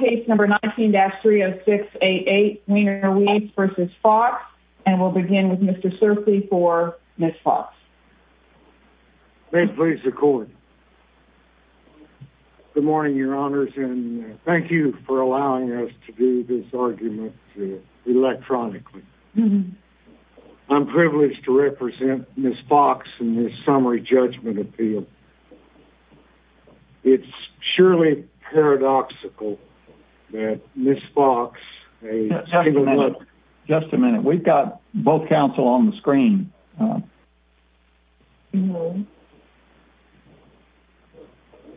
Case No. 19-30688 Wiener Weiss v. Fox And we'll begin with Mr. Cerfi for Ms. Fox May it please the Court Good morning, Your Honors, and thank you for allowing us to do this argument electronically I'm privileged to represent Ms. Fox in this summary judgment appeal It's surely paradoxical that Ms. Fox... Just a minute. We've got both counsel on the screen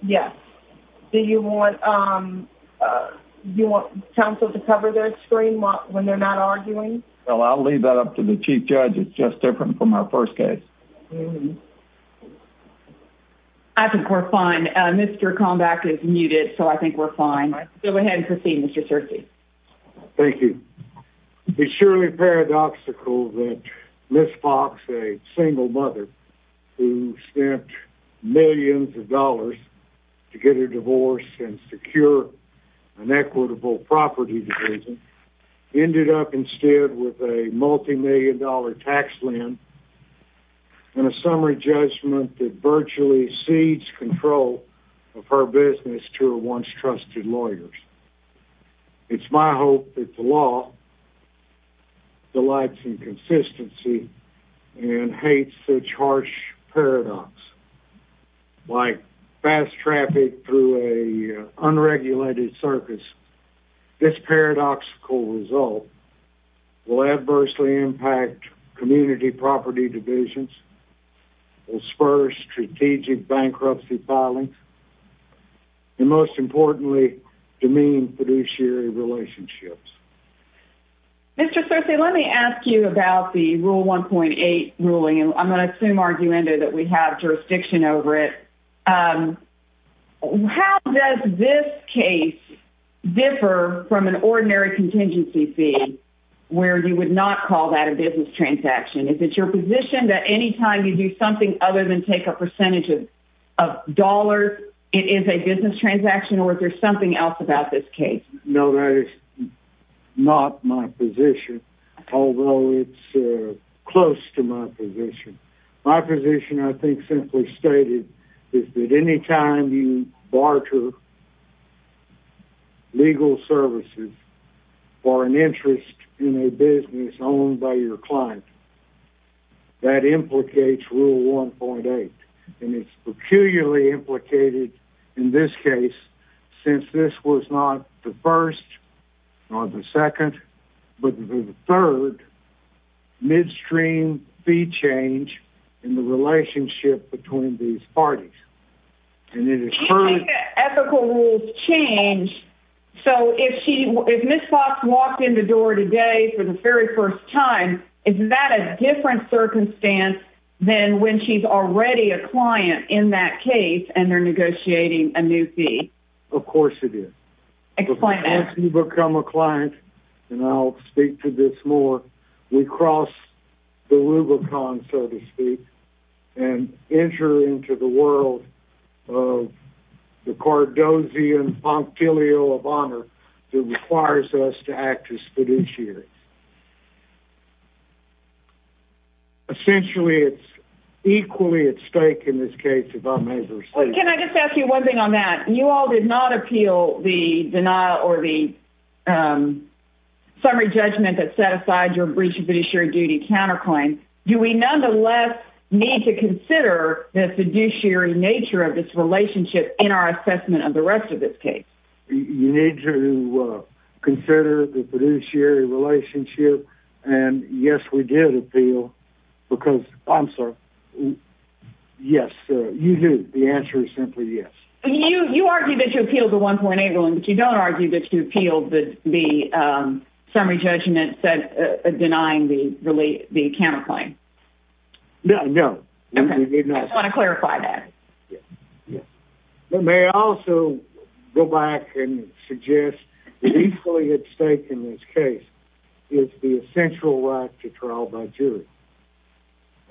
Yes. Do you want counsel to cover their screen when they're not arguing? I'll leave that up to the Chief Judge. It's just different from our first case I think we're fine. Mr. Kombach is muted, so I think we're fine. Go ahead and proceed, Mr. Cerfi Thank you It's surely paradoxical that Ms. Fox, a single mother who spent millions of dollars to get a divorce and secure an equitable property division Ended up instead with a multimillion-dollar tax lien and a summary judgment that virtually cedes control of her business to her once-trusted lawyers It's my hope that the law delights in consistency and hates such harsh paradox Like fast traffic through an unregulated circus, this paradoxical result will adversely impact community property divisions It will spur strategic bankruptcy filings and, most importantly, demean fiduciary relationships Mr. Cerfi, let me ask you about the Rule 1.8 ruling. I'm going to assume, arguendo, that we have jurisdiction over it How does this case differ from an ordinary contingency fee where you would not call that a business transaction? Is it your position that any time you do something other than take a percentage of dollars, it is a business transaction, or is there something else about this case? No, that is not my position, although it's close to my position My position, I think, simply stated is that any time you barter legal services for an interest in a business owned by your client, that implicates Rule 1.8 And it's peculiarly implicated in this case, since this was not the first or the second, but the third, midstream fee change in the relationship between these parties Do you think that ethical rules change, so if Ms. Fox walked in the door today for the very first time, is that a different circumstance than when she's already a client in that case and they're negotiating a new fee? Of course it is Explain that Once you become a client, and I'll speak to this more, we cross the Rubicon, so to speak, and enter into the world of the Cardozian Pompilio of Honor that requires us to act as fiduciaries Essentially, it's equally at stake in this case if I may say Can I just ask you one thing on that? You all did not appeal the denial or the summary judgment that set aside your breach of fiduciary duty counterclaim Do we nonetheless need to consider the fiduciary nature of this relationship in our assessment of the rest of this case? You need to consider the fiduciary relationship, and yes, we did appeal, because, I'm sorry, yes, you do, the answer is simply yes You argue that you appealed the 1.8 ruling, but you don't argue that you appealed the summary judgment denying the counterclaim No, no I just want to clarify that May I also go back and suggest that equally at stake in this case is the essential right to trial by jury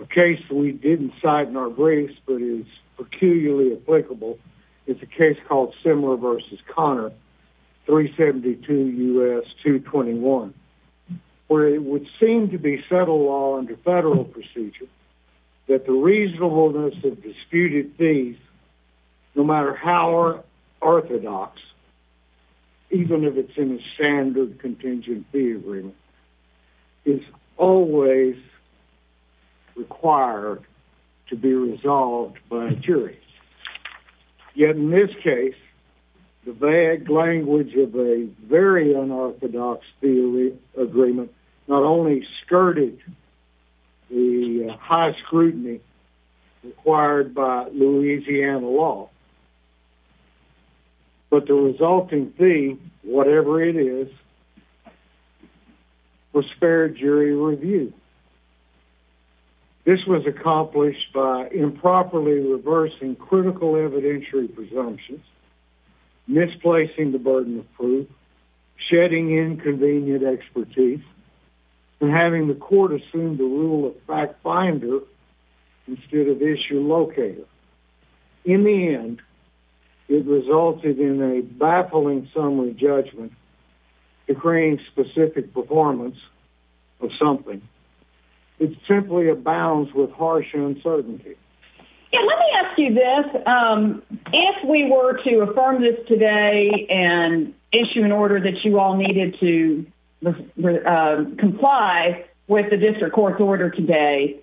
A case we didn't cite in our briefs, but is peculiarly applicable is a case called Simler v. Conner, 372 U.S. 221 where it would seem to be settled law under federal procedure that the reasonableness of disputed fees, no matter how orthodox, even if it's in a standard contingent fee agreement, is always required to be resolved by a jury Yet in this case, the vague language of a very unorthodox agreement not only skirted the high scrutiny required by Louisiana law, but the resulting fee, whatever it is, was fair jury review This was accomplished by improperly reversing critical evidentiary presumptions, misplacing the burden of proof, shedding inconvenient expertise, and having the court assume the rule of fact finder instead of issue locator In the end, it resulted in a baffling summary judgment decreeing specific performance of something that simply abounds with harsh uncertainty Let me ask you this. If we were to affirm this today and issue an order that you all needed to comply with the district court's order today,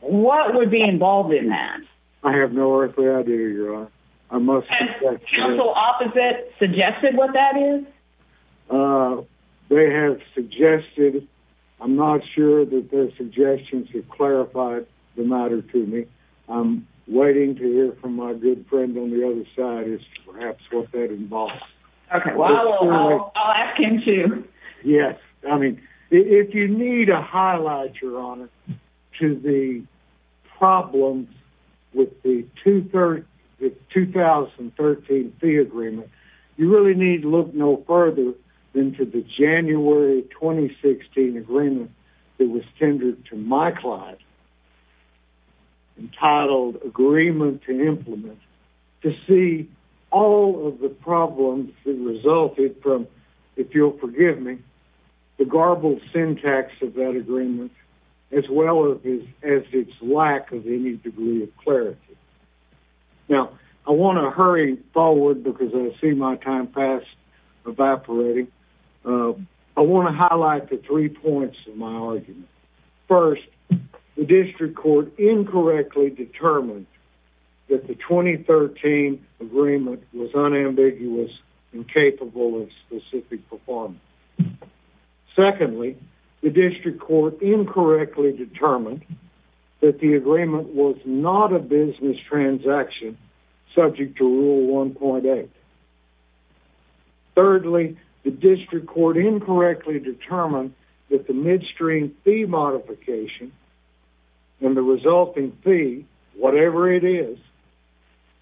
what would be involved in that? I have no earthly idea, Your Honor. Has counsel opposite suggested what that is? They have suggested. I'm not sure that their suggestions have clarified the matter to me. I'm waiting to hear from my good friend on the other side as to perhaps what that involves. I'll ask him, too. Yes. I mean, if you need a highlight, Your Honor, to the problems with the 2013 fee agreement, you really need to look no further than to the January 2016 agreement that was tendered to my client, entitled Agreement to Implement, to see all of the problems that resulted from, if you'll forgive me, the garbled syntax of that agreement, as well as its lack of any degree of clarity. Now, I want to hurry forward because I see my time pass evaporating. I want to highlight the three points of my argument. First, the district court incorrectly determined that the 2013 agreement was unambiguous and capable of specific performance. Secondly, the district court incorrectly determined that the agreement was not a business transaction subject to Rule 1.8. Thirdly, the district court incorrectly determined that the midstream fee modification and the resulting fee, whatever it is,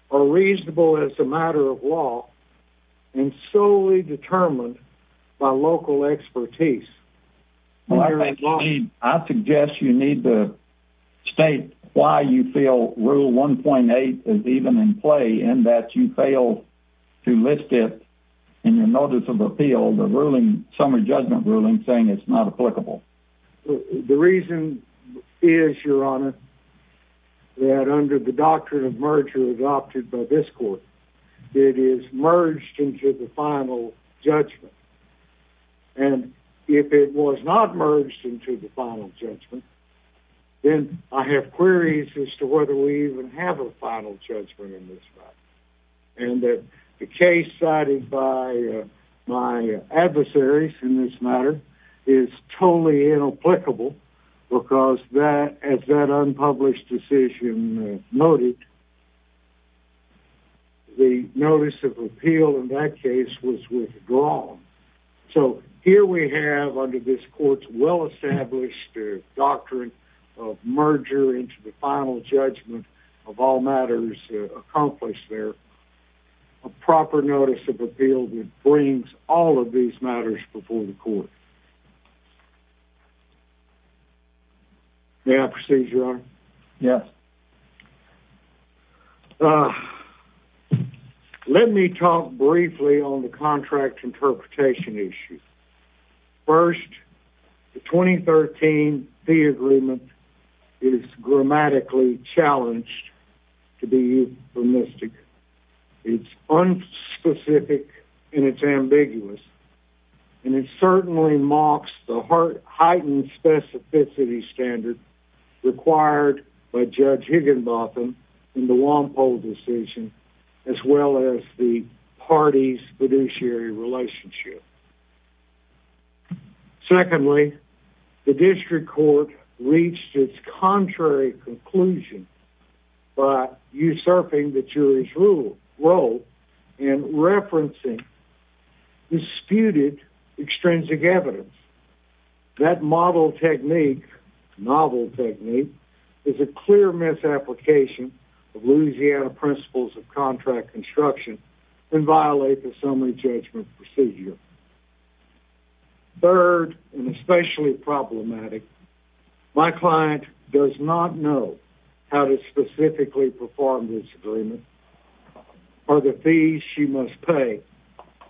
are reasonable as a matter of law and solely determined by local expertise. I suggest you need to state why you feel Rule 1.8 is even in play and that you failed to list it in your notice of appeal, the ruling, summary judgment ruling, saying it's not applicable. The reason is, Your Honor, that under the doctrine of merger adopted by this court, it is merged into the final judgment. And if it was not merged into the final judgment, then I have queries as to whether we even have a final judgment in this case. And the case cited by my adversaries in this matter is totally inapplicable because as that unpublished decision noted, the notice of appeal in that case was withdrawn. So here we have, under this court's well-established doctrine of merger into the final judgment of all matters accomplished there, a proper notice of appeal that brings all of these matters before the court. May I proceed, Your Honor? Yes. Let me talk briefly on the contract interpretation issue. First, the 2013 fee agreement is grammatically challenged to be euphemistic. It's unspecific and it's ambiguous. And it certainly mocks the heightened specificity standard required by Judge Higginbotham in the Wampo decision, as well as the party's fiduciary relationship. Secondly, the district court reached its contrary conclusion by usurping the jury's role in referencing disputed extrinsic evidence. That model technique, novel technique, is a clear misapplication of Louisiana principles of contract construction and violates the summary judgment procedure. Third, and especially problematic, my client does not know how to specifically perform this agreement or the fees she must pay,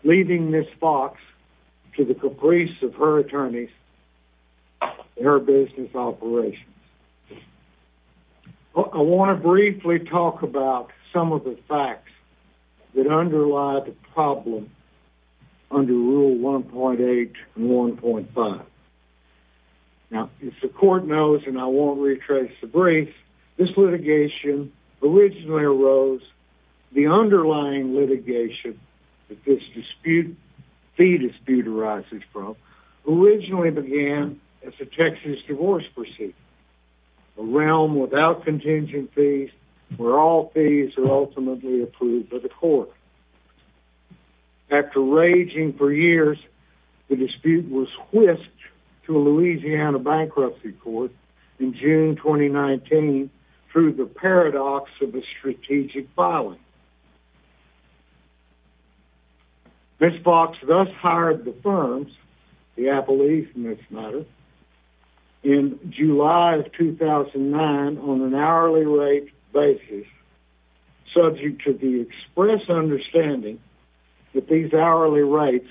leading Ms. Fox to the caprice of her attorneys and her business operations. I want to briefly talk about some of the facts that underlie the problem under Rule 1.8 and 1.5. Now, as the court knows, and I won't retrace the brief, this litigation originally arose, the underlying litigation that this dispute, fee dispute arises from, originally began as a Texas divorce proceeding. A realm without contingent fees where all fees are ultimately approved by the court. After raging for years, the dispute was whisked to a Louisiana bankruptcy court in June 2019 through the paradox of a strategic filing. Ms. Fox thus hired the firms, the Appellees in this matter, in July of 2009 on an hourly rate basis, subject to the express understanding that these hourly rates...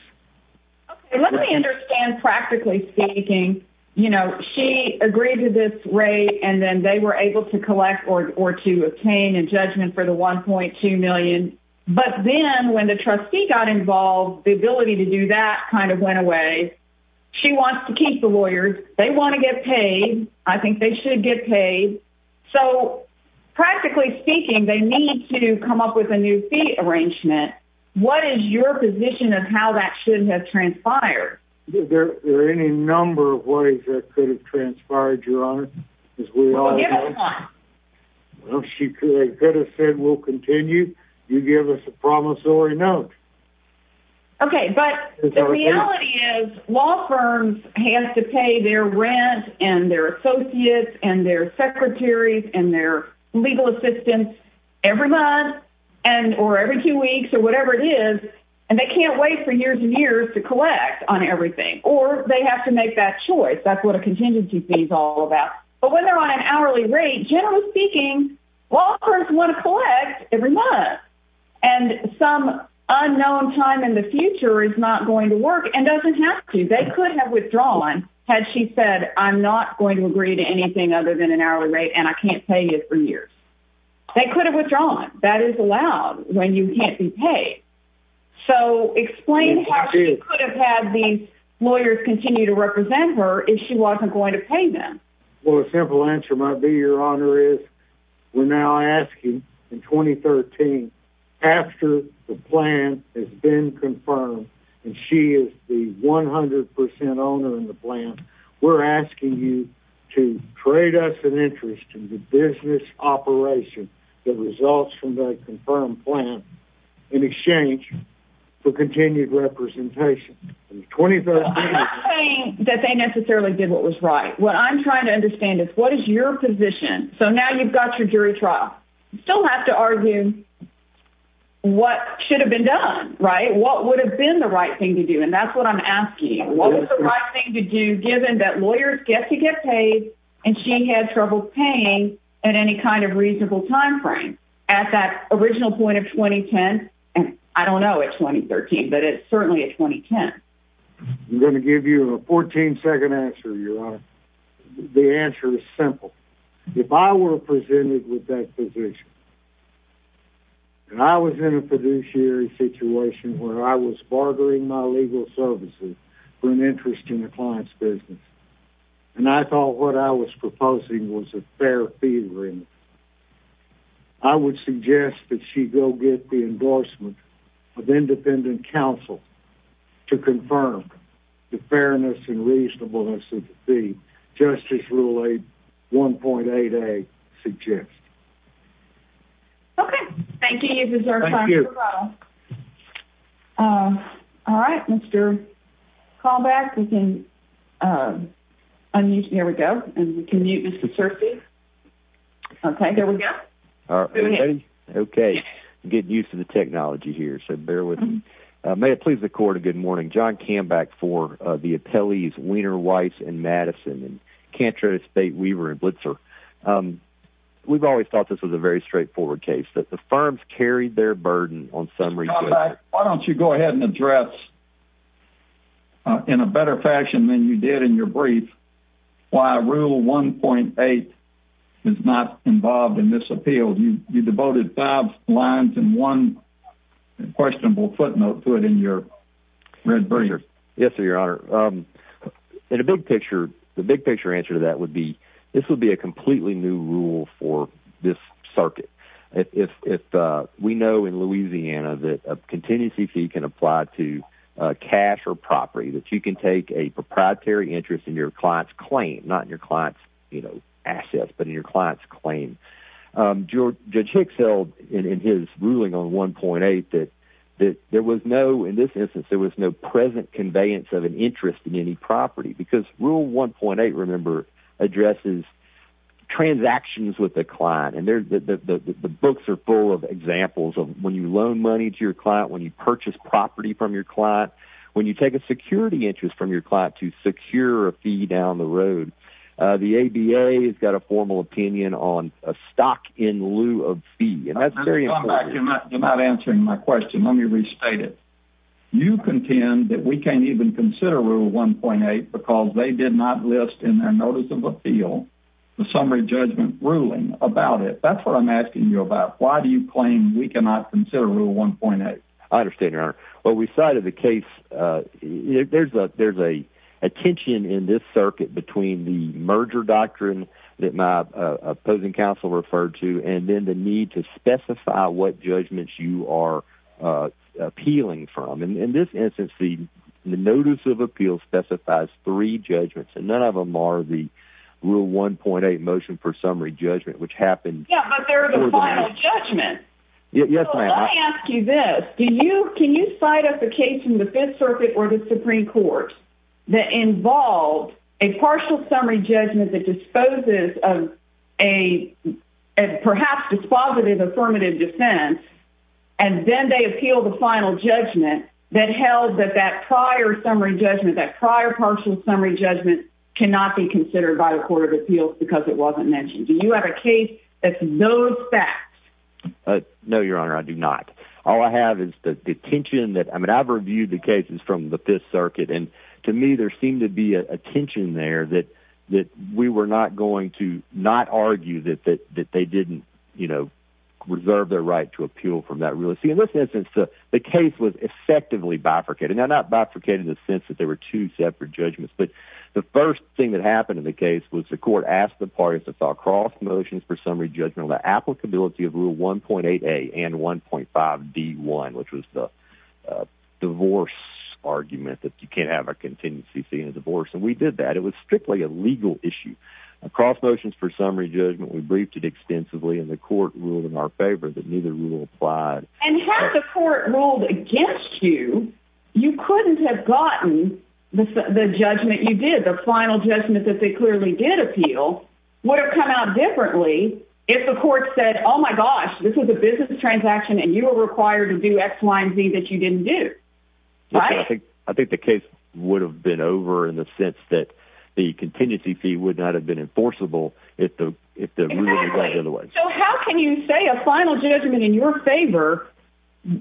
Okay, let me understand, practically speaking, you know, she agreed to this rate and then they were able to collect or to obtain a judgment for the $1.2 million. But then, when the trustee got involved, the ability to do that kind of went away. She wants to keep the lawyers. They want to get paid. I think they should get paid. So, practically speaking, they need to come up with a new fee arrangement. What is your position of how that should have transpired? Is there any number of ways that could have transpired, Your Honor? Well, give us one. Well, she could have said, we'll continue. You give us a promissory note. Okay, but the reality is, law firms have to pay their rent and their associates and their secretaries and their legal assistants every month or every two weeks or whatever it is. And they can't wait for years and years to collect on everything, or they have to make that choice. That's what a contingency fee is all about. But when they're on an hourly rate, generally speaking, law firms want to collect every month. And some unknown time in the future is not going to work and doesn't have to. They could have withdrawn had she said, I'm not going to agree to anything other than an hourly rate and I can't pay you for years. They could have withdrawn. That is allowed when you can't be paid. So, explain how she could have had the lawyers continue to represent her if she wasn't going to pay them. Well, a simple answer might be, Your Honor, is we're now asking, in 2013, after the plan has been confirmed and she is the 100% owner in the plan, we're asking you to trade us an interest in the business operation that results from the confirmed plan in exchange for continued representation. I'm not saying that they necessarily did what was right. What I'm trying to understand is, what is your position? So now you've got your jury trial. You still have to argue what should have been done, right? What would have been the right thing to do? And that's what I'm asking. What was the right thing to do given that lawyers get to get paid and she had trouble paying at any kind of reasonable time frame? At that original point of 2010? I don't know at 2013, but it's certainly at 2010. I'm going to give you a 14-second answer, Your Honor. The answer is simple. If I were presented with that position and I was in a fiduciary situation where I was bartering my legal services for an interest in a client's business and I thought what I was proposing was a fair fee agreement, I would suggest that she go get the endorsement of independent counsel to confirm the fairness and reasonableness of the fee, just as Rule 1.8a suggests. Okay. Thank you. You deserve time for rebuttal. All right. Mr. Kambeck, you can unmute. There we go. And we can mute Mr. Searcy. Okay, there we go. Okay. I'm getting used to the technology here, so bear with me. May it please the Court, a good morning. John Kambeck for the appellees Weiner, Weiss, and Madison, and Cantrose, Bate, Weaver, and Blitzer. We've always thought this was a very straightforward case, that the firms carried their burden on some research. Mr. Kambeck, why don't you go ahead and address in a better fashion than you did in your brief why Rule 1.8 is not involved in this appeal. You devoted five lines and one questionable footnote to it in your red brief. Yes, Your Honor. In a big picture, the big picture answer to that would be this would be a completely new rule for this circuit. We know in Louisiana that a contingency fee can apply to cash or property, that you can take a proprietary interest in your client's claim, not in your client's assets, but in your client's claim. Judge Hicks held in his ruling on 1.8 that there was no, in this instance, there was no present conveyance of an interest in any property, because Rule 1.8, remember, addresses transactions with the client, and the books are full of examples of when you loan money to your client, when you purchase property from your client, when you take a security interest from your client to secure a fee down the road. The ABA has got a formal opinion on a stock in lieu of fee, and that's very important. Come back, you're not answering my question. Let me restate it. You contend that we can't even consider Rule 1.8 because they did not list in their notice of appeal the summary judgment ruling about it. That's what I'm asking you about. Why do you claim we cannot consider Rule 1.8? I understand, Your Honor. Well, we cited the case, there's a tension in this circuit between the merger doctrine that my opposing counsel referred to, and then the need to specify what judgments you are appealing from. In this instance, the notice of appeal specifies three judgments, and none of them are the Rule 1.8 motion for summary judgment, which happened... Yeah, but they're the final judgment. Yes, ma'am. Can you cite us a case in the Fifth Circuit or the Supreme Court that involved a partial summary judgment that disposes of a perhaps dispositive affirmative defense, and then they appeal the final judgment that held that that prior summary judgment, that prior partial summary judgment, cannot be considered by the Court of Appeals because it wasn't mentioned. Do you have a case that's those facts? No, Your Honor, I do not. All I have is the tension that, I mean, I've reviewed the cases from the Fifth Circuit, and to me there seemed to be a tension there that we were not going to not argue that they didn't, you know, reserve their right to appeal from that rule. In this instance, the case was effectively bifurcated. Now, not bifurcated in the sense that there were two separate judgments, but the first thing that happened in the case was the Court asked the parties to file cross motions for summary judgment on the applicability of Rule 1.8a and 1.5d.1, which was the divorce argument that you can't have a contingency fee in a divorce, and we did that. It was strictly a legal issue. A cross motion for summary judgment, we briefed it extensively, and the Court ruled in our favor that neither rule applied. And had the Court ruled against you, you couldn't have gotten the judgment you did, the final judgment that they clearly did appeal, would have come out differently if the Court said, oh my gosh, this was a business transaction and you were required to do x, y, and z that you didn't do. Right? I think the case would have been over in the sense that the contingency fee would not have been enforceable if the rule had gone the other way. So how can you say a final judgment in your favor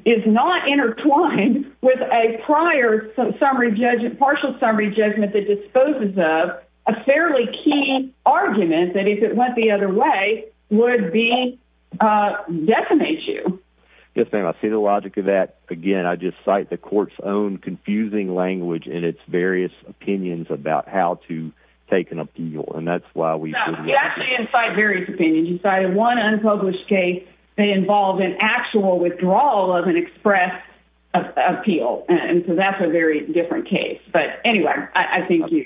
is not intertwined with a prior partial summary judgment that disposes of a fairly key argument that if it went the other way would decimate you? Yes, ma'am. I see the logic of that. Again, I just cite the Court's own confusing language in its various opinions about how to take an appeal. You actually incite various opinions. You cited one unpublished case that involved an actual withdrawal of an express appeal. And so that's a very different case. But anyway, I think you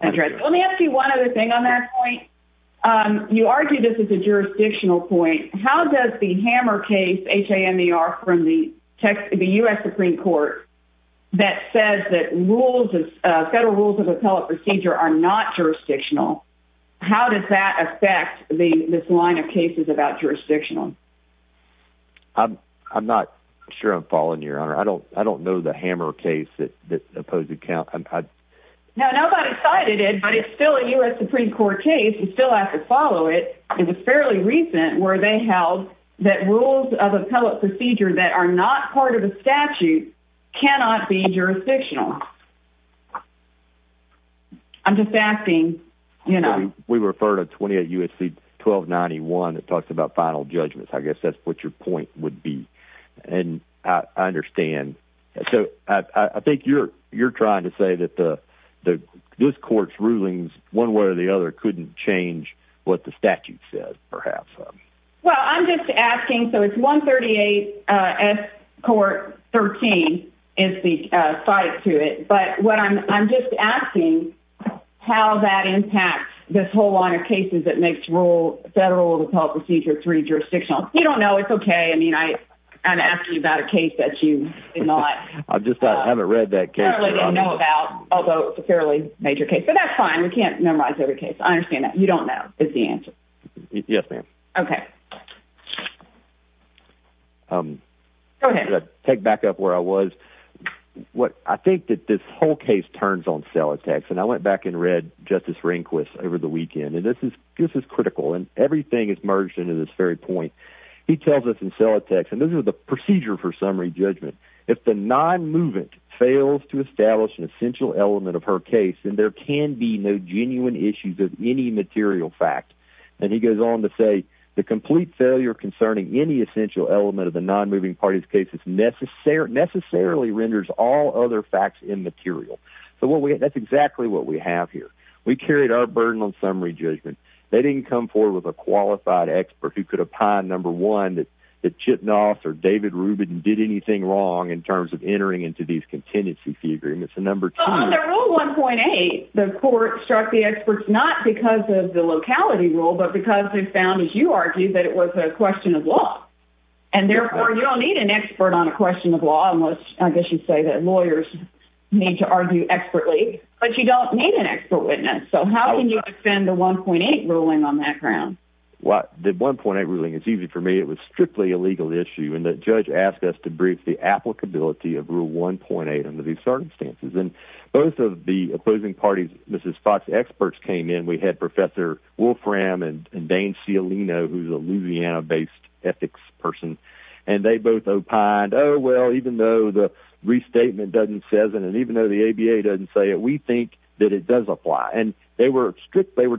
addressed it. Let me ask you one other thing on that point. You argue this is a jurisdictional point. How does the Hammer case, H-A-M-E-R, from the U.S. Supreme Court that says that federal rules of appellate procedure are not jurisdictional, how does that affect this line of cases about jurisdictional? I'm not sure I'm following you, Your Honor. I don't know the Hammer case that opposed the count. No, nobody cited it, but it's still a U.S. Supreme Court case. You still have to follow it. It was fairly recent where they held that rules of appellate procedure that are not part of a statute cannot be jurisdictional. We refer to 28 U.S.C. 1291. It talks about final judgments. I guess that's what your point would be. I understand. So I think you're trying to say that this court's rulings, one way or the other, couldn't change what the statute says, perhaps. Well, I'm just asking. So it's 138 S. Court 13 is the cite to it. But I'm just asking how that impacts this whole line of cases that makes federal rules of appellate procedure three jurisdictional. You don't know. It's okay. I mean, I'm asking about a case that you did not. I just haven't read that case. Although it's a fairly major case. But that's fine. We can't memorize every case. I understand that. You don't know is the answer. Yes, ma'am. Okay. Go ahead. Take back up where I was. I think that this whole case turns on cell attacks. And I went back and read Justice Rehnquist over the weekend. And this is critical. And everything is merged into this very point. He tells us in cell attacks. And this is the procedure for summary judgment. If the non-moving fails to establish an essential element of her case, then there can be no genuine issues of any material fact. And he goes on to say, the complete failure concerning any essential element of the non-moving party's case necessarily renders all other facts immaterial. So that's exactly what we have here. We carried our burden on summary judgment. They didn't come forward with a qualified expert who could opine, number one, that Chipnoff or David Rubin did anything wrong in terms of entering into these contingency agreements. And number two... On the rule 1.8, the court struck the experts not because of the locality rule, but because they found, as you argued, that it was a question of law. And therefore, you don't need an expert on a question of law unless, I guess you'd say, lawyers need to argue expertly. But you don't need an expert witness. So how can you defend the 1.8 ruling on that ground? Well, the 1.8 ruling is easy for me. It was strictly a legal issue. And the judge asked us to brief the applicability of Rule 1.8 under these circumstances. And both of the opposing party's Mrs. Fox experts came in. We had Professor Wolfram and Dane Cialino, who's a Louisiana-based ethics person. And they both opined, oh, well, even though the restatement doesn't say it, and even though the ABA doesn't say it, we think that it does apply. And they were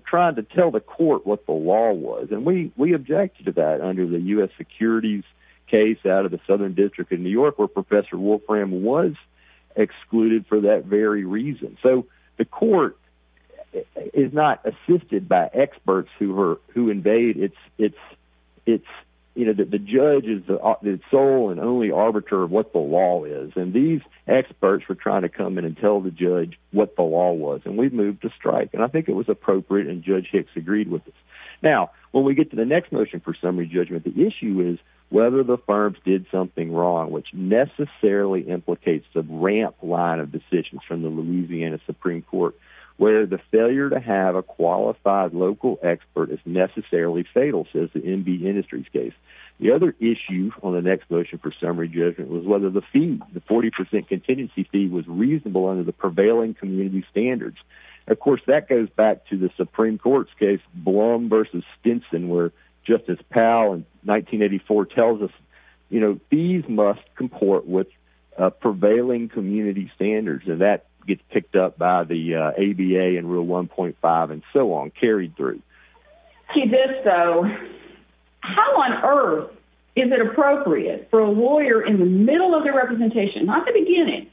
trying to tell the court what the law was. And we objected to that under the U.S. Securities case out of the Southern District of New York, where Professor Wolfram was excluded for that very reason. So the court is not assisted by experts who invade. The judge is the sole and only arbiter of what the law is. And these experts were trying to come in and tell the judge what the law was. And we moved to strike. And I think it was appropriate, and Judge Hicks agreed with us. Now, when we get to the next motion for summary judgment, the issue is whether the firms did something wrong, which necessarily implicates the ramp line of decisions from the Louisiana Supreme Court, where the failure to have a qualified local expert is necessarily fatal, says the NB Industries case. The other issue on the next motion for summary judgment was whether the fee, the 40 percent contingency fee, was reasonable under the prevailing community standards. Of course, that goes back to the Supreme Court's case, Blum v. Stinson, where Justice Powell in 1984 tells us, you know, fees must comport with prevailing community standards. And that gets picked up by the ABA in Rule 1.5 and so on, carried through. How on earth is it appropriate for a lawyer in the middle of their representation, not the beginning,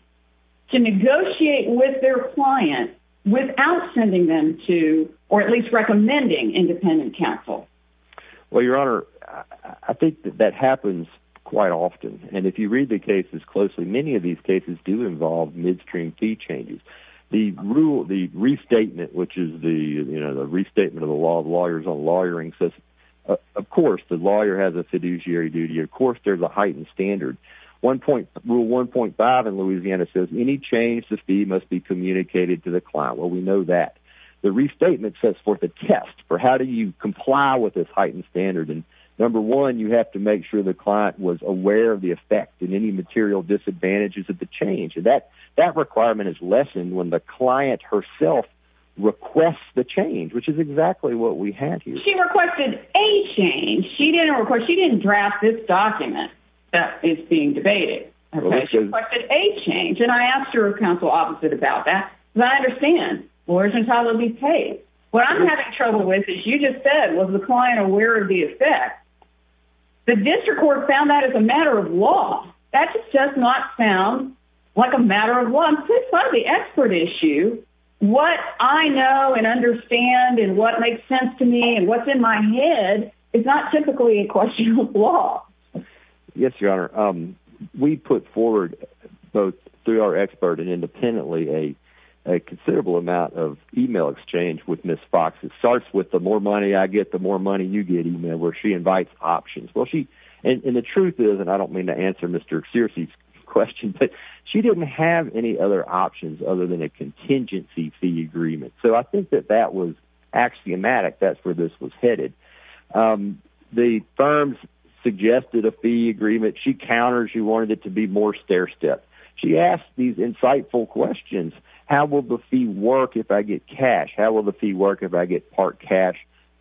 to negotiate with their client without sending them to, or at least recommending, independent counsel? Well, Your Honor, I think that happens quite often. And if you read the cases closely, many of these cases do involve midstream fee changes. The restatement, which is the restatement of the law of lawyers on lawyering, says, of course, the lawyer has a fiduciary duty. Of course, there's a heightened standard. Rule 1.5 in Louisiana says any change to fee must be communicated to the client. Well, we know that. The restatement says for the test, for how do you comply with this heightened standard, and number one, you have to make sure the client was aware of the effect and any material disadvantages of the change. That requirement is lessened when the client herself requests the change, which is exactly what we have here. She requested a change. She didn't request, she didn't draft this document that is being debated. She requested a change, and I asked her counsel opposite about that. Because I understand, lawyers are probably paid. What I'm having trouble with, as you just said, was the client aware of the effect. The district court found that as a matter of law. That just does not sound like a matter of law. It's part of the expert issue. What I know and understand and what makes sense to me and what's in my head is not typically a question of law. Yes, Your Honor. We put forward, both through our expert and independently, a considerable amount of email exchange with Ms. Fox. It starts with the more money I get, the more money you get, where she invites options. The truth is, and I don't mean to answer Mr. Xerces' question, but she didn't have any other options other than a contingency fee agreement. So I think that that was axiomatic. That's where this was headed. The firms suggested a fee agreement. She counters. She wanted it to be more stair-step. She asks these insightful questions. How will the fee work if I get cash? How will the fee work if I get part cash,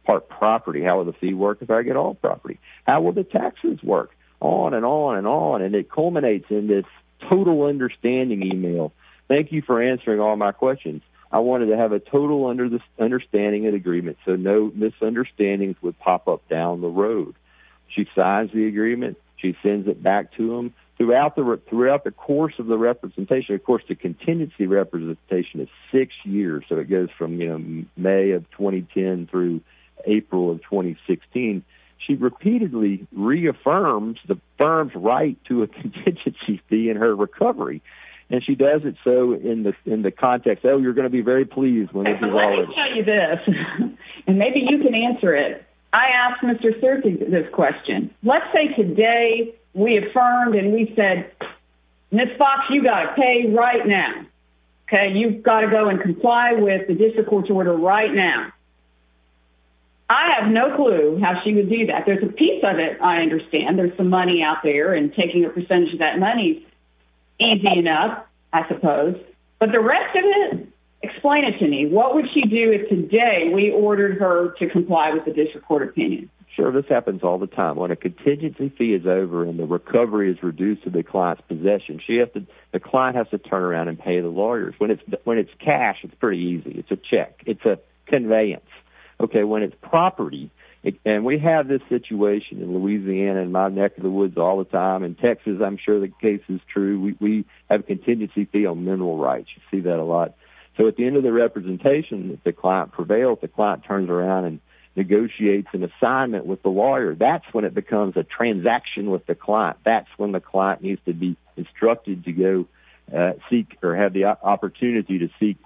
part property? How will the fee work if I get all property? How will the taxes work? On and on and on. And it culminates in this total understanding email. Thank you for answering all my questions. I wanted to have a total understanding of the agreement so no misunderstandings would pop up down the road. She signs the agreement. She sends it back to them. Throughout the course of the representation, of course, the contingency representation is six years. So it goes from May of 2010 through April of 2016. She repeatedly reaffirms the firm's right to a contingency fee in her recovery. And she does it so in the context, oh, you're going to be very pleased when you see all this. And maybe you can answer it. I asked Mr. Cerqui this question. Let's say today we affirmed and we said, Ms. Fox, you got to pay right now. You've got to go and comply with the district court's order right now. I have no clue how she would do that. There's a piece of it I understand. There's some money out there and taking a percentage of that money is easy enough, I suppose. But the rest of it, explain it to me. What would she do if today we ordered her to comply with the district court opinion? Sure, this happens all the time. When a contingency fee is over and the recovery is reduced to the client's possession, the client has to turn around and pay the lawyers. When it's cash, it's pretty easy. It's a check. It's a conveyance. When it's property, and we have this situation in Louisiana and my neck of the woods all the time. In Texas, I'm sure the case is true. We have a contingency fee on mineral rights. You see that a lot. So at the end of the representation, if the client prevails, the client turns around and negotiates an assignment with the lawyer. That's when it becomes a transaction with the client. That's when the client needs to be instructed to go seek or have the opportunity to seek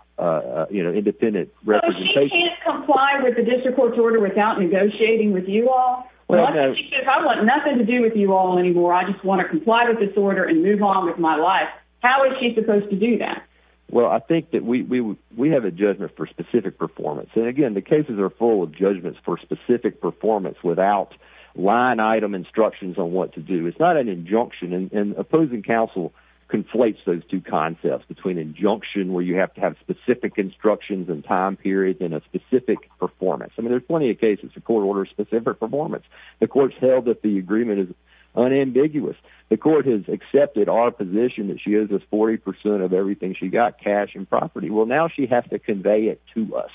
independent representation. So she can't comply with the district court's order without negotiating with you all? If I want nothing to do with you all anymore, I just want to comply with this order and move on with my life, how is she supposed to do that? Well, I think that we have a judgment for specific performance. And again, the cases are full of judgments for specific performance without line item instructions on what to do. It's not an injunction, and opposing counsel conflates those two concepts, between injunction, where you have to have specific instructions and time periods, and a specific performance. I mean, there's plenty of cases the court orders specific performance. The court's held that the agreement is unambiguous. The court has accepted our position that she owes us 40% of everything she got, cash and property. Well, now she has to convey it to us.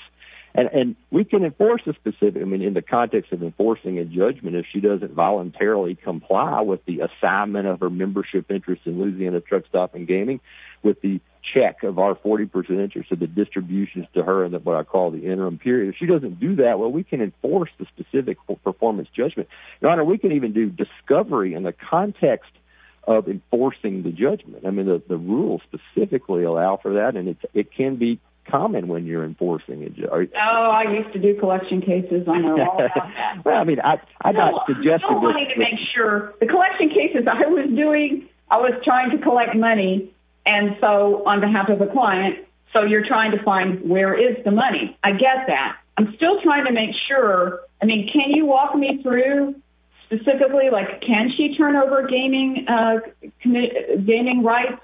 And we can enforce a specific, I mean, in the context of enforcing a judgment, if she doesn't voluntarily comply with the assignment of her membership interest in Louisiana Truck Stop and Gaming, with the check of our 40% interest of the distributions to her in what I call the interim period. If she doesn't do that, well, we can enforce the specific performance judgment. Your Honor, we can even do discovery in the context of enforcing the judgment. I mean, the rules specifically allow for that, and it can be common when you're enforcing a judgment. Oh, I used to do collection cases. I know all about that. Well, I mean, I don't suggest that this is the case. No, you don't want me to make sure. The collection cases I was doing, I was trying to collect money, and so on behalf of a client. So you're trying to find where is the money? I get that. I'm still trying to make sure. I mean, can you walk me through specifically, like, can she turn over gaming rights?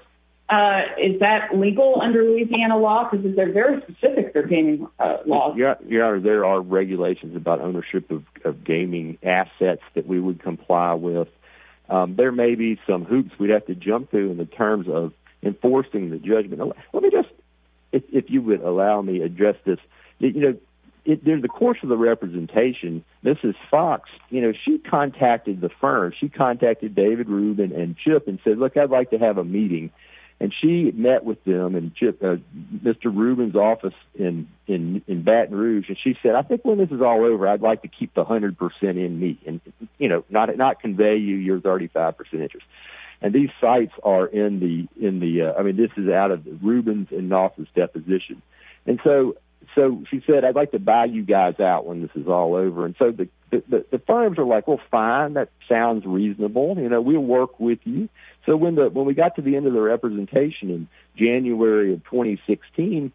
Is that legal under Louisiana law? Because they're very specific, their gaming laws. Your Honor, there are regulations about ownership of gaming assets that we would comply with. There may be some hoops we'd have to jump through in the terms of enforcing the judgment. Let me just, if you would allow me, address this. You know, during the course of the representation, Mrs. Fox, you know, she contacted the firm. She contacted David Rubin and Chip and said, look, I'd like to have a meeting. And she met with them and Mr. Rubin's office in Baton Rouge, and she said, I think when this is all over, I'd like to keep the 100 percent in me and, you know, not convey you your 35 percent interest. And these sites are in the, I mean, this is out of Rubin's and Knopf's deposition. And so she said, I'd like to buy you guys out when this is all over. And so the firms are like, well, fine, that sounds reasonable. You know, we'll work with you. So when we got to the end of the representation in January of 2016,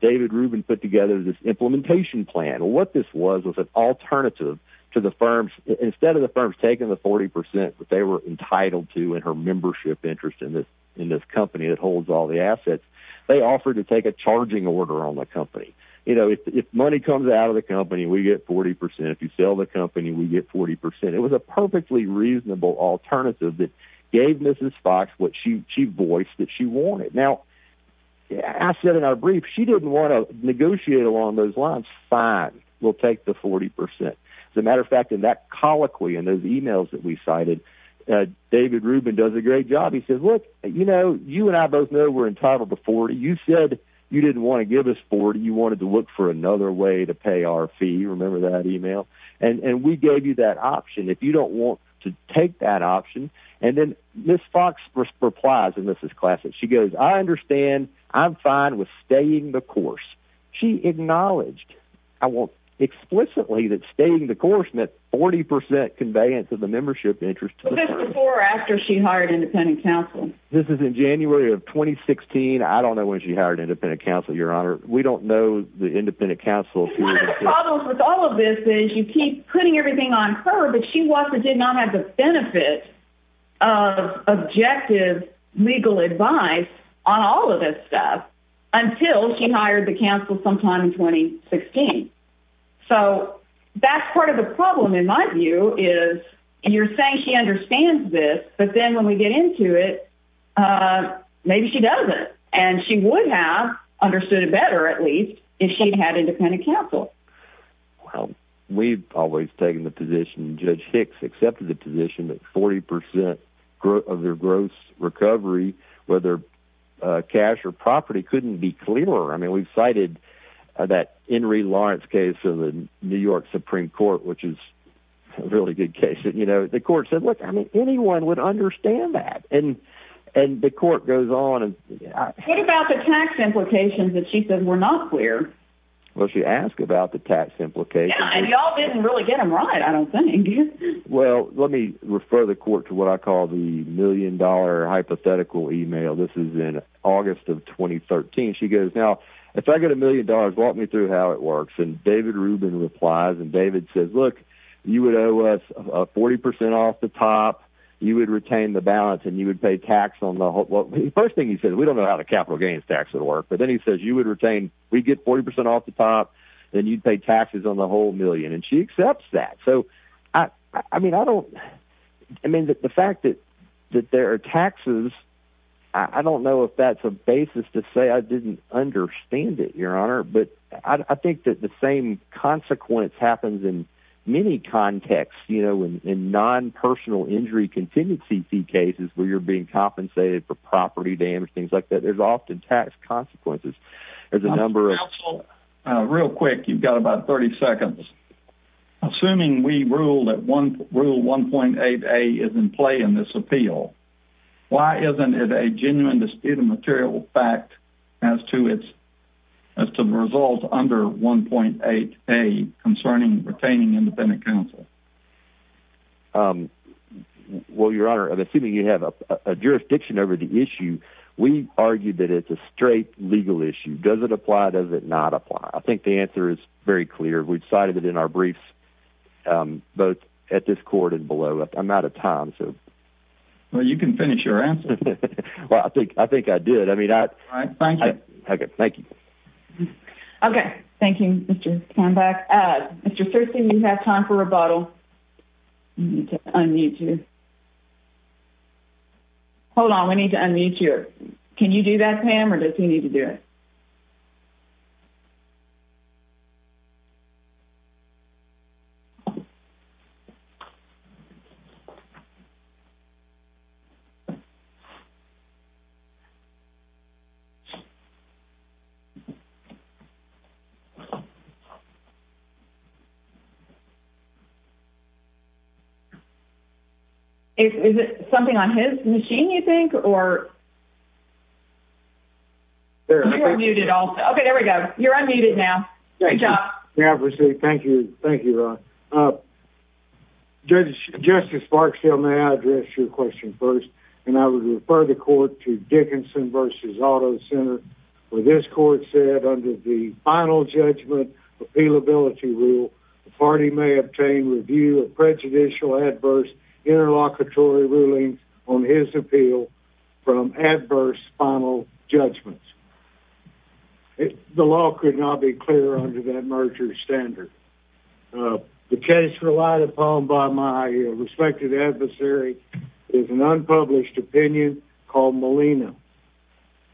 David Rubin put together this implementation plan. You know, what this was was an alternative to the firms. Instead of the firms taking the 40 percent that they were entitled to in her membership interest in this company that holds all the assets, they offered to take a charging order on the company. You know, if money comes out of the company, we get 40 percent. If you sell the company, we get 40 percent. It was a perfectly reasonable alternative that gave Mrs. Fox what she voiced that she wanted. Now, I said in our brief, she didn't want to negotiate along those lines. Fine, we'll take the 40 percent. As a matter of fact, in that colloquy, in those emails that we cited, David Rubin does a great job. He says, look, you know, you and I both know we're entitled to 40. You said you didn't want to give us 40. You wanted to look for another way to pay our fee. Remember that email? And we gave you that option. If you don't want to take that option. And then Mrs. Fox replies, and this is classic. She goes, I understand. I'm fine with staying the course. She acknowledged explicitly that staying the course meant 40 percent conveyance of the membership interest to her. This is before or after she hired independent counsel. This is in January of 2016. I don't know when she hired independent counsel, Your Honor. We don't know the independent counsel. One of the problems with all of this is you keep putting everything on her, but she did not have the benefit of objective legal advice on all of this stuff until she hired the counsel sometime in 2016. So that's part of the problem, in my view, is you're saying she understands this, but then when we get into it, maybe she doesn't. And she would have understood it better, at least, if she'd had independent counsel. Well, we've always taken the position, and Judge Hicks accepted the position, that 40 percent of their gross recovery, whether cash or property, couldn't be clearer. I mean, we've cited that Henry Lawrence case in the New York Supreme Court, which is a really good case. You know, the court said, look, I mean, anyone would understand that. And the court goes on. What about the tax implications that she said were not clear? Well, she asked about the tax implications. Yeah, and y'all didn't really get them right, I don't think. Well, let me refer the court to what I call the million-dollar hypothetical email. This is in August of 2013. She goes, now, if I get a million dollars, walk me through how it works. And David Rubin replies, and David says, look, you would owe us 40 percent off the top, you would retain the balance, and you would pay tax on the whole. First thing he says, we don't know how the capital gains tax would work. But then he says, you would retain, we'd get 40 percent off the top, then you'd pay taxes on the whole million. And she accepts that. So, I mean, I don't – I mean, the fact that there are taxes, I don't know if that's a basis to say I didn't understand it, Your Honor. But I think that the same consequence happens in many contexts, you know, in non-personal injury contingency cases where you're being compensated for property damage, things like that. There's often tax consequences. There's a number of – Counsel, real quick, you've got about 30 seconds. Assuming we rule that Rule 1.8a is in play in this appeal, why isn't it a genuine dispute of material fact as to the result under 1.8a concerning retaining independent counsel? Well, Your Honor, assuming you have a jurisdiction over the issue, we argue that it's a straight legal issue. Does it apply, does it not apply? I think the answer is very clear. We've cited it in our briefs both at this court and below. I'm out of time, so. Well, you can finish your answer. Well, I think I did. I mean, I – All right, thank you. Okay, thank you. Okay, thank you, Mr. Kambach. Mr. Thurston, you have time for rebuttal. I need to unmute you. Hold on, we need to unmute you. Can you do that, Pam, or does he need to do it? Okay. Is it something on his machine, you think, or? You're muted also. Okay, there we go. You're unmuted now. Yeah, thank you. Thank you, Ron. Justice Barksdale, may I address your question first? And I would refer the court to Dickinson v. Auto Center, where this court said, under the final judgment appealability rule, the party may obtain review of prejudicial, adverse, interlocutory rulings on his appeal from adverse final judgments. The law could not be clearer under that merger standard. The case relied upon by my respected adversary is an unpublished opinion called Molina.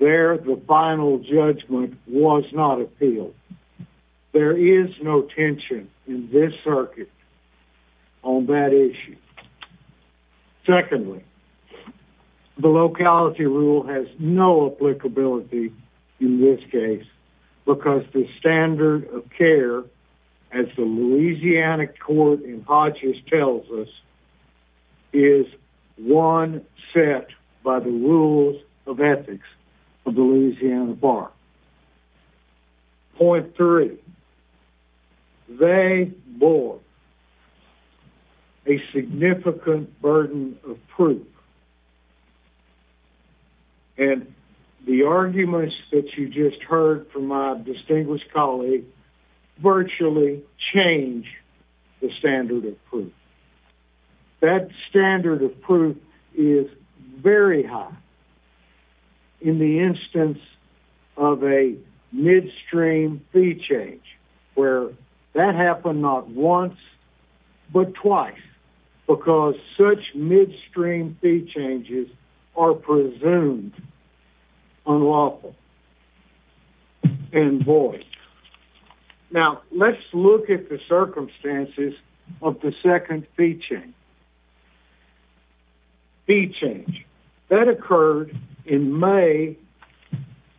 There, the final judgment was not appealed. There is no tension in this circuit on that issue. Secondly, the locality rule has no applicability in this case because the standard of care, as the Louisiana court in Hodges tells us, is one set by the rules of ethics of the Louisiana Bar. Point three, they bore a significant burden of proof. And the arguments that you just heard from my distinguished colleague virtually change the standard of proof. That standard of proof is very high. In the instance of a midstream fee change, where that happened not once, but twice, because such midstream fee changes are presumed unlawful and void. Now, let's look at the circumstances of the second fee change. Fee change. That occurred in May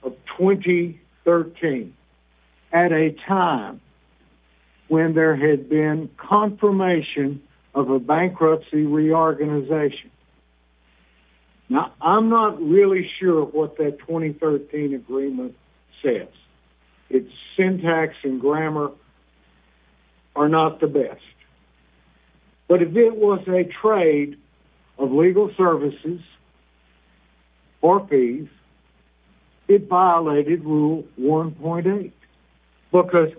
of 2013 at a time when there had been confirmation of a bankruptcy reorganization. Now, I'm not really sure what that 2013 agreement says. Its syntax and grammar are not the best. But if it was a trade of legal services or fees, it violated rule 1.8. Because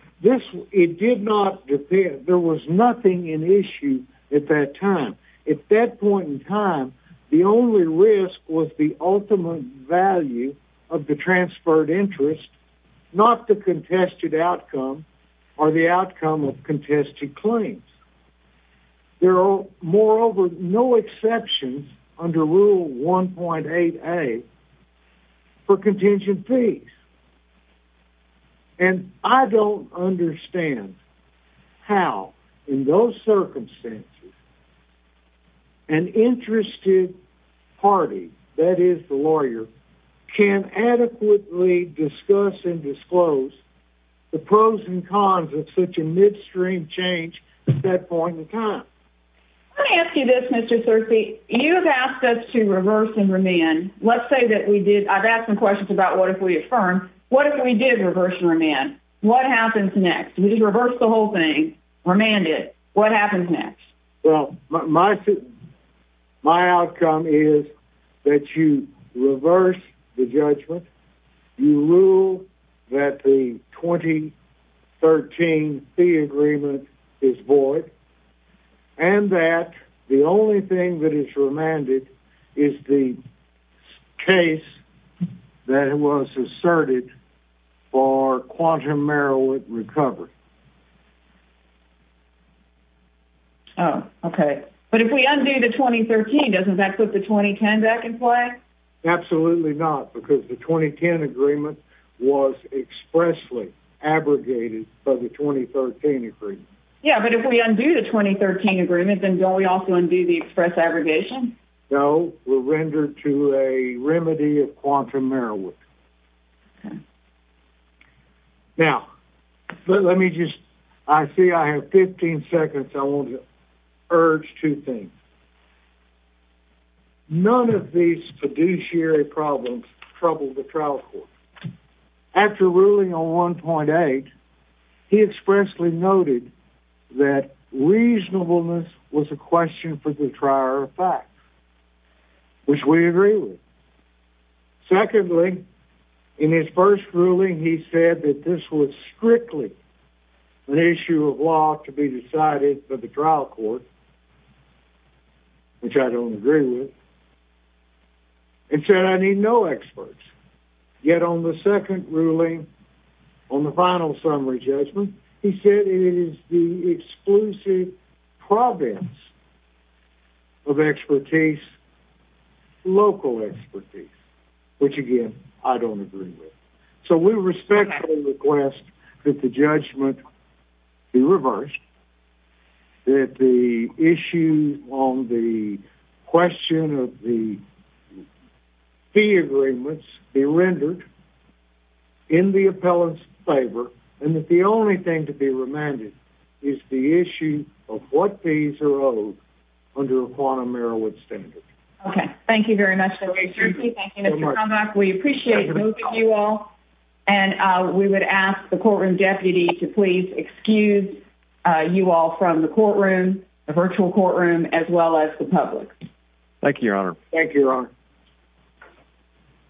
it did not depend, there was nothing in issue at that time. At that point in time, the only risk was the ultimate value of the transferred interest, not the contested outcome or the outcome of contested claims. There are, moreover, no exceptions under rule 1.8a for contingent fees. And I don't understand how, in those circumstances, an interested party, that is, the lawyer, can adequately discuss and disclose the pros and cons of such a midstream change at that point in time. Let me ask you this, Mr. Searcy. You've asked us to reverse and remand. Let's say that we did. I've asked some questions about what if we affirmed. What if we did reverse and remand? What happens next? We just reversed the whole thing, remanded. What happens next? Well, my outcome is that you reverse the judgment, you rule that the 2013 fee agreement is void, and that the only thing that is remanded is the case that was asserted for Quantum Merrill recovery. Oh, okay. But if we undo the 2013, doesn't that put the 2010 back in play? Absolutely not, because the 2010 agreement was expressly abrogated by the 2013 agreement. Yeah, but if we undo the 2013 agreement, then don't we also undo the express abrogation? No, we're rendered to a remedy of Quantum Merrill. Okay. Now, let me just, I see I have 15 seconds. I want to urge two things. None of these fiduciary problems trouble the trial court. After ruling on 1.8, he expressly noted that reasonableness was a question for the trier of facts, which we agree with. Secondly, in his first ruling, he said that this was strictly an issue of law to be decided by the trial court, which I don't agree with, and said I need no experts. Yet on the second ruling, on the final summary judgment, he said it is the exclusive province of expertise, local expertise, which, again, I don't agree with. So we respectfully request that the judgment be reversed, that the issue on the question of the fee agreements and that the only thing to be remanded is the issue of what fees are owed under a Quantum Merrill standard. Okay. Thank you very much, Mr. Cormack. We appreciate moving you all, and we would ask the courtroom deputy to please excuse you all from the courtroom, the virtual courtroom, as well as the public. Thank you, Your Honor. Thank you, Your Honor.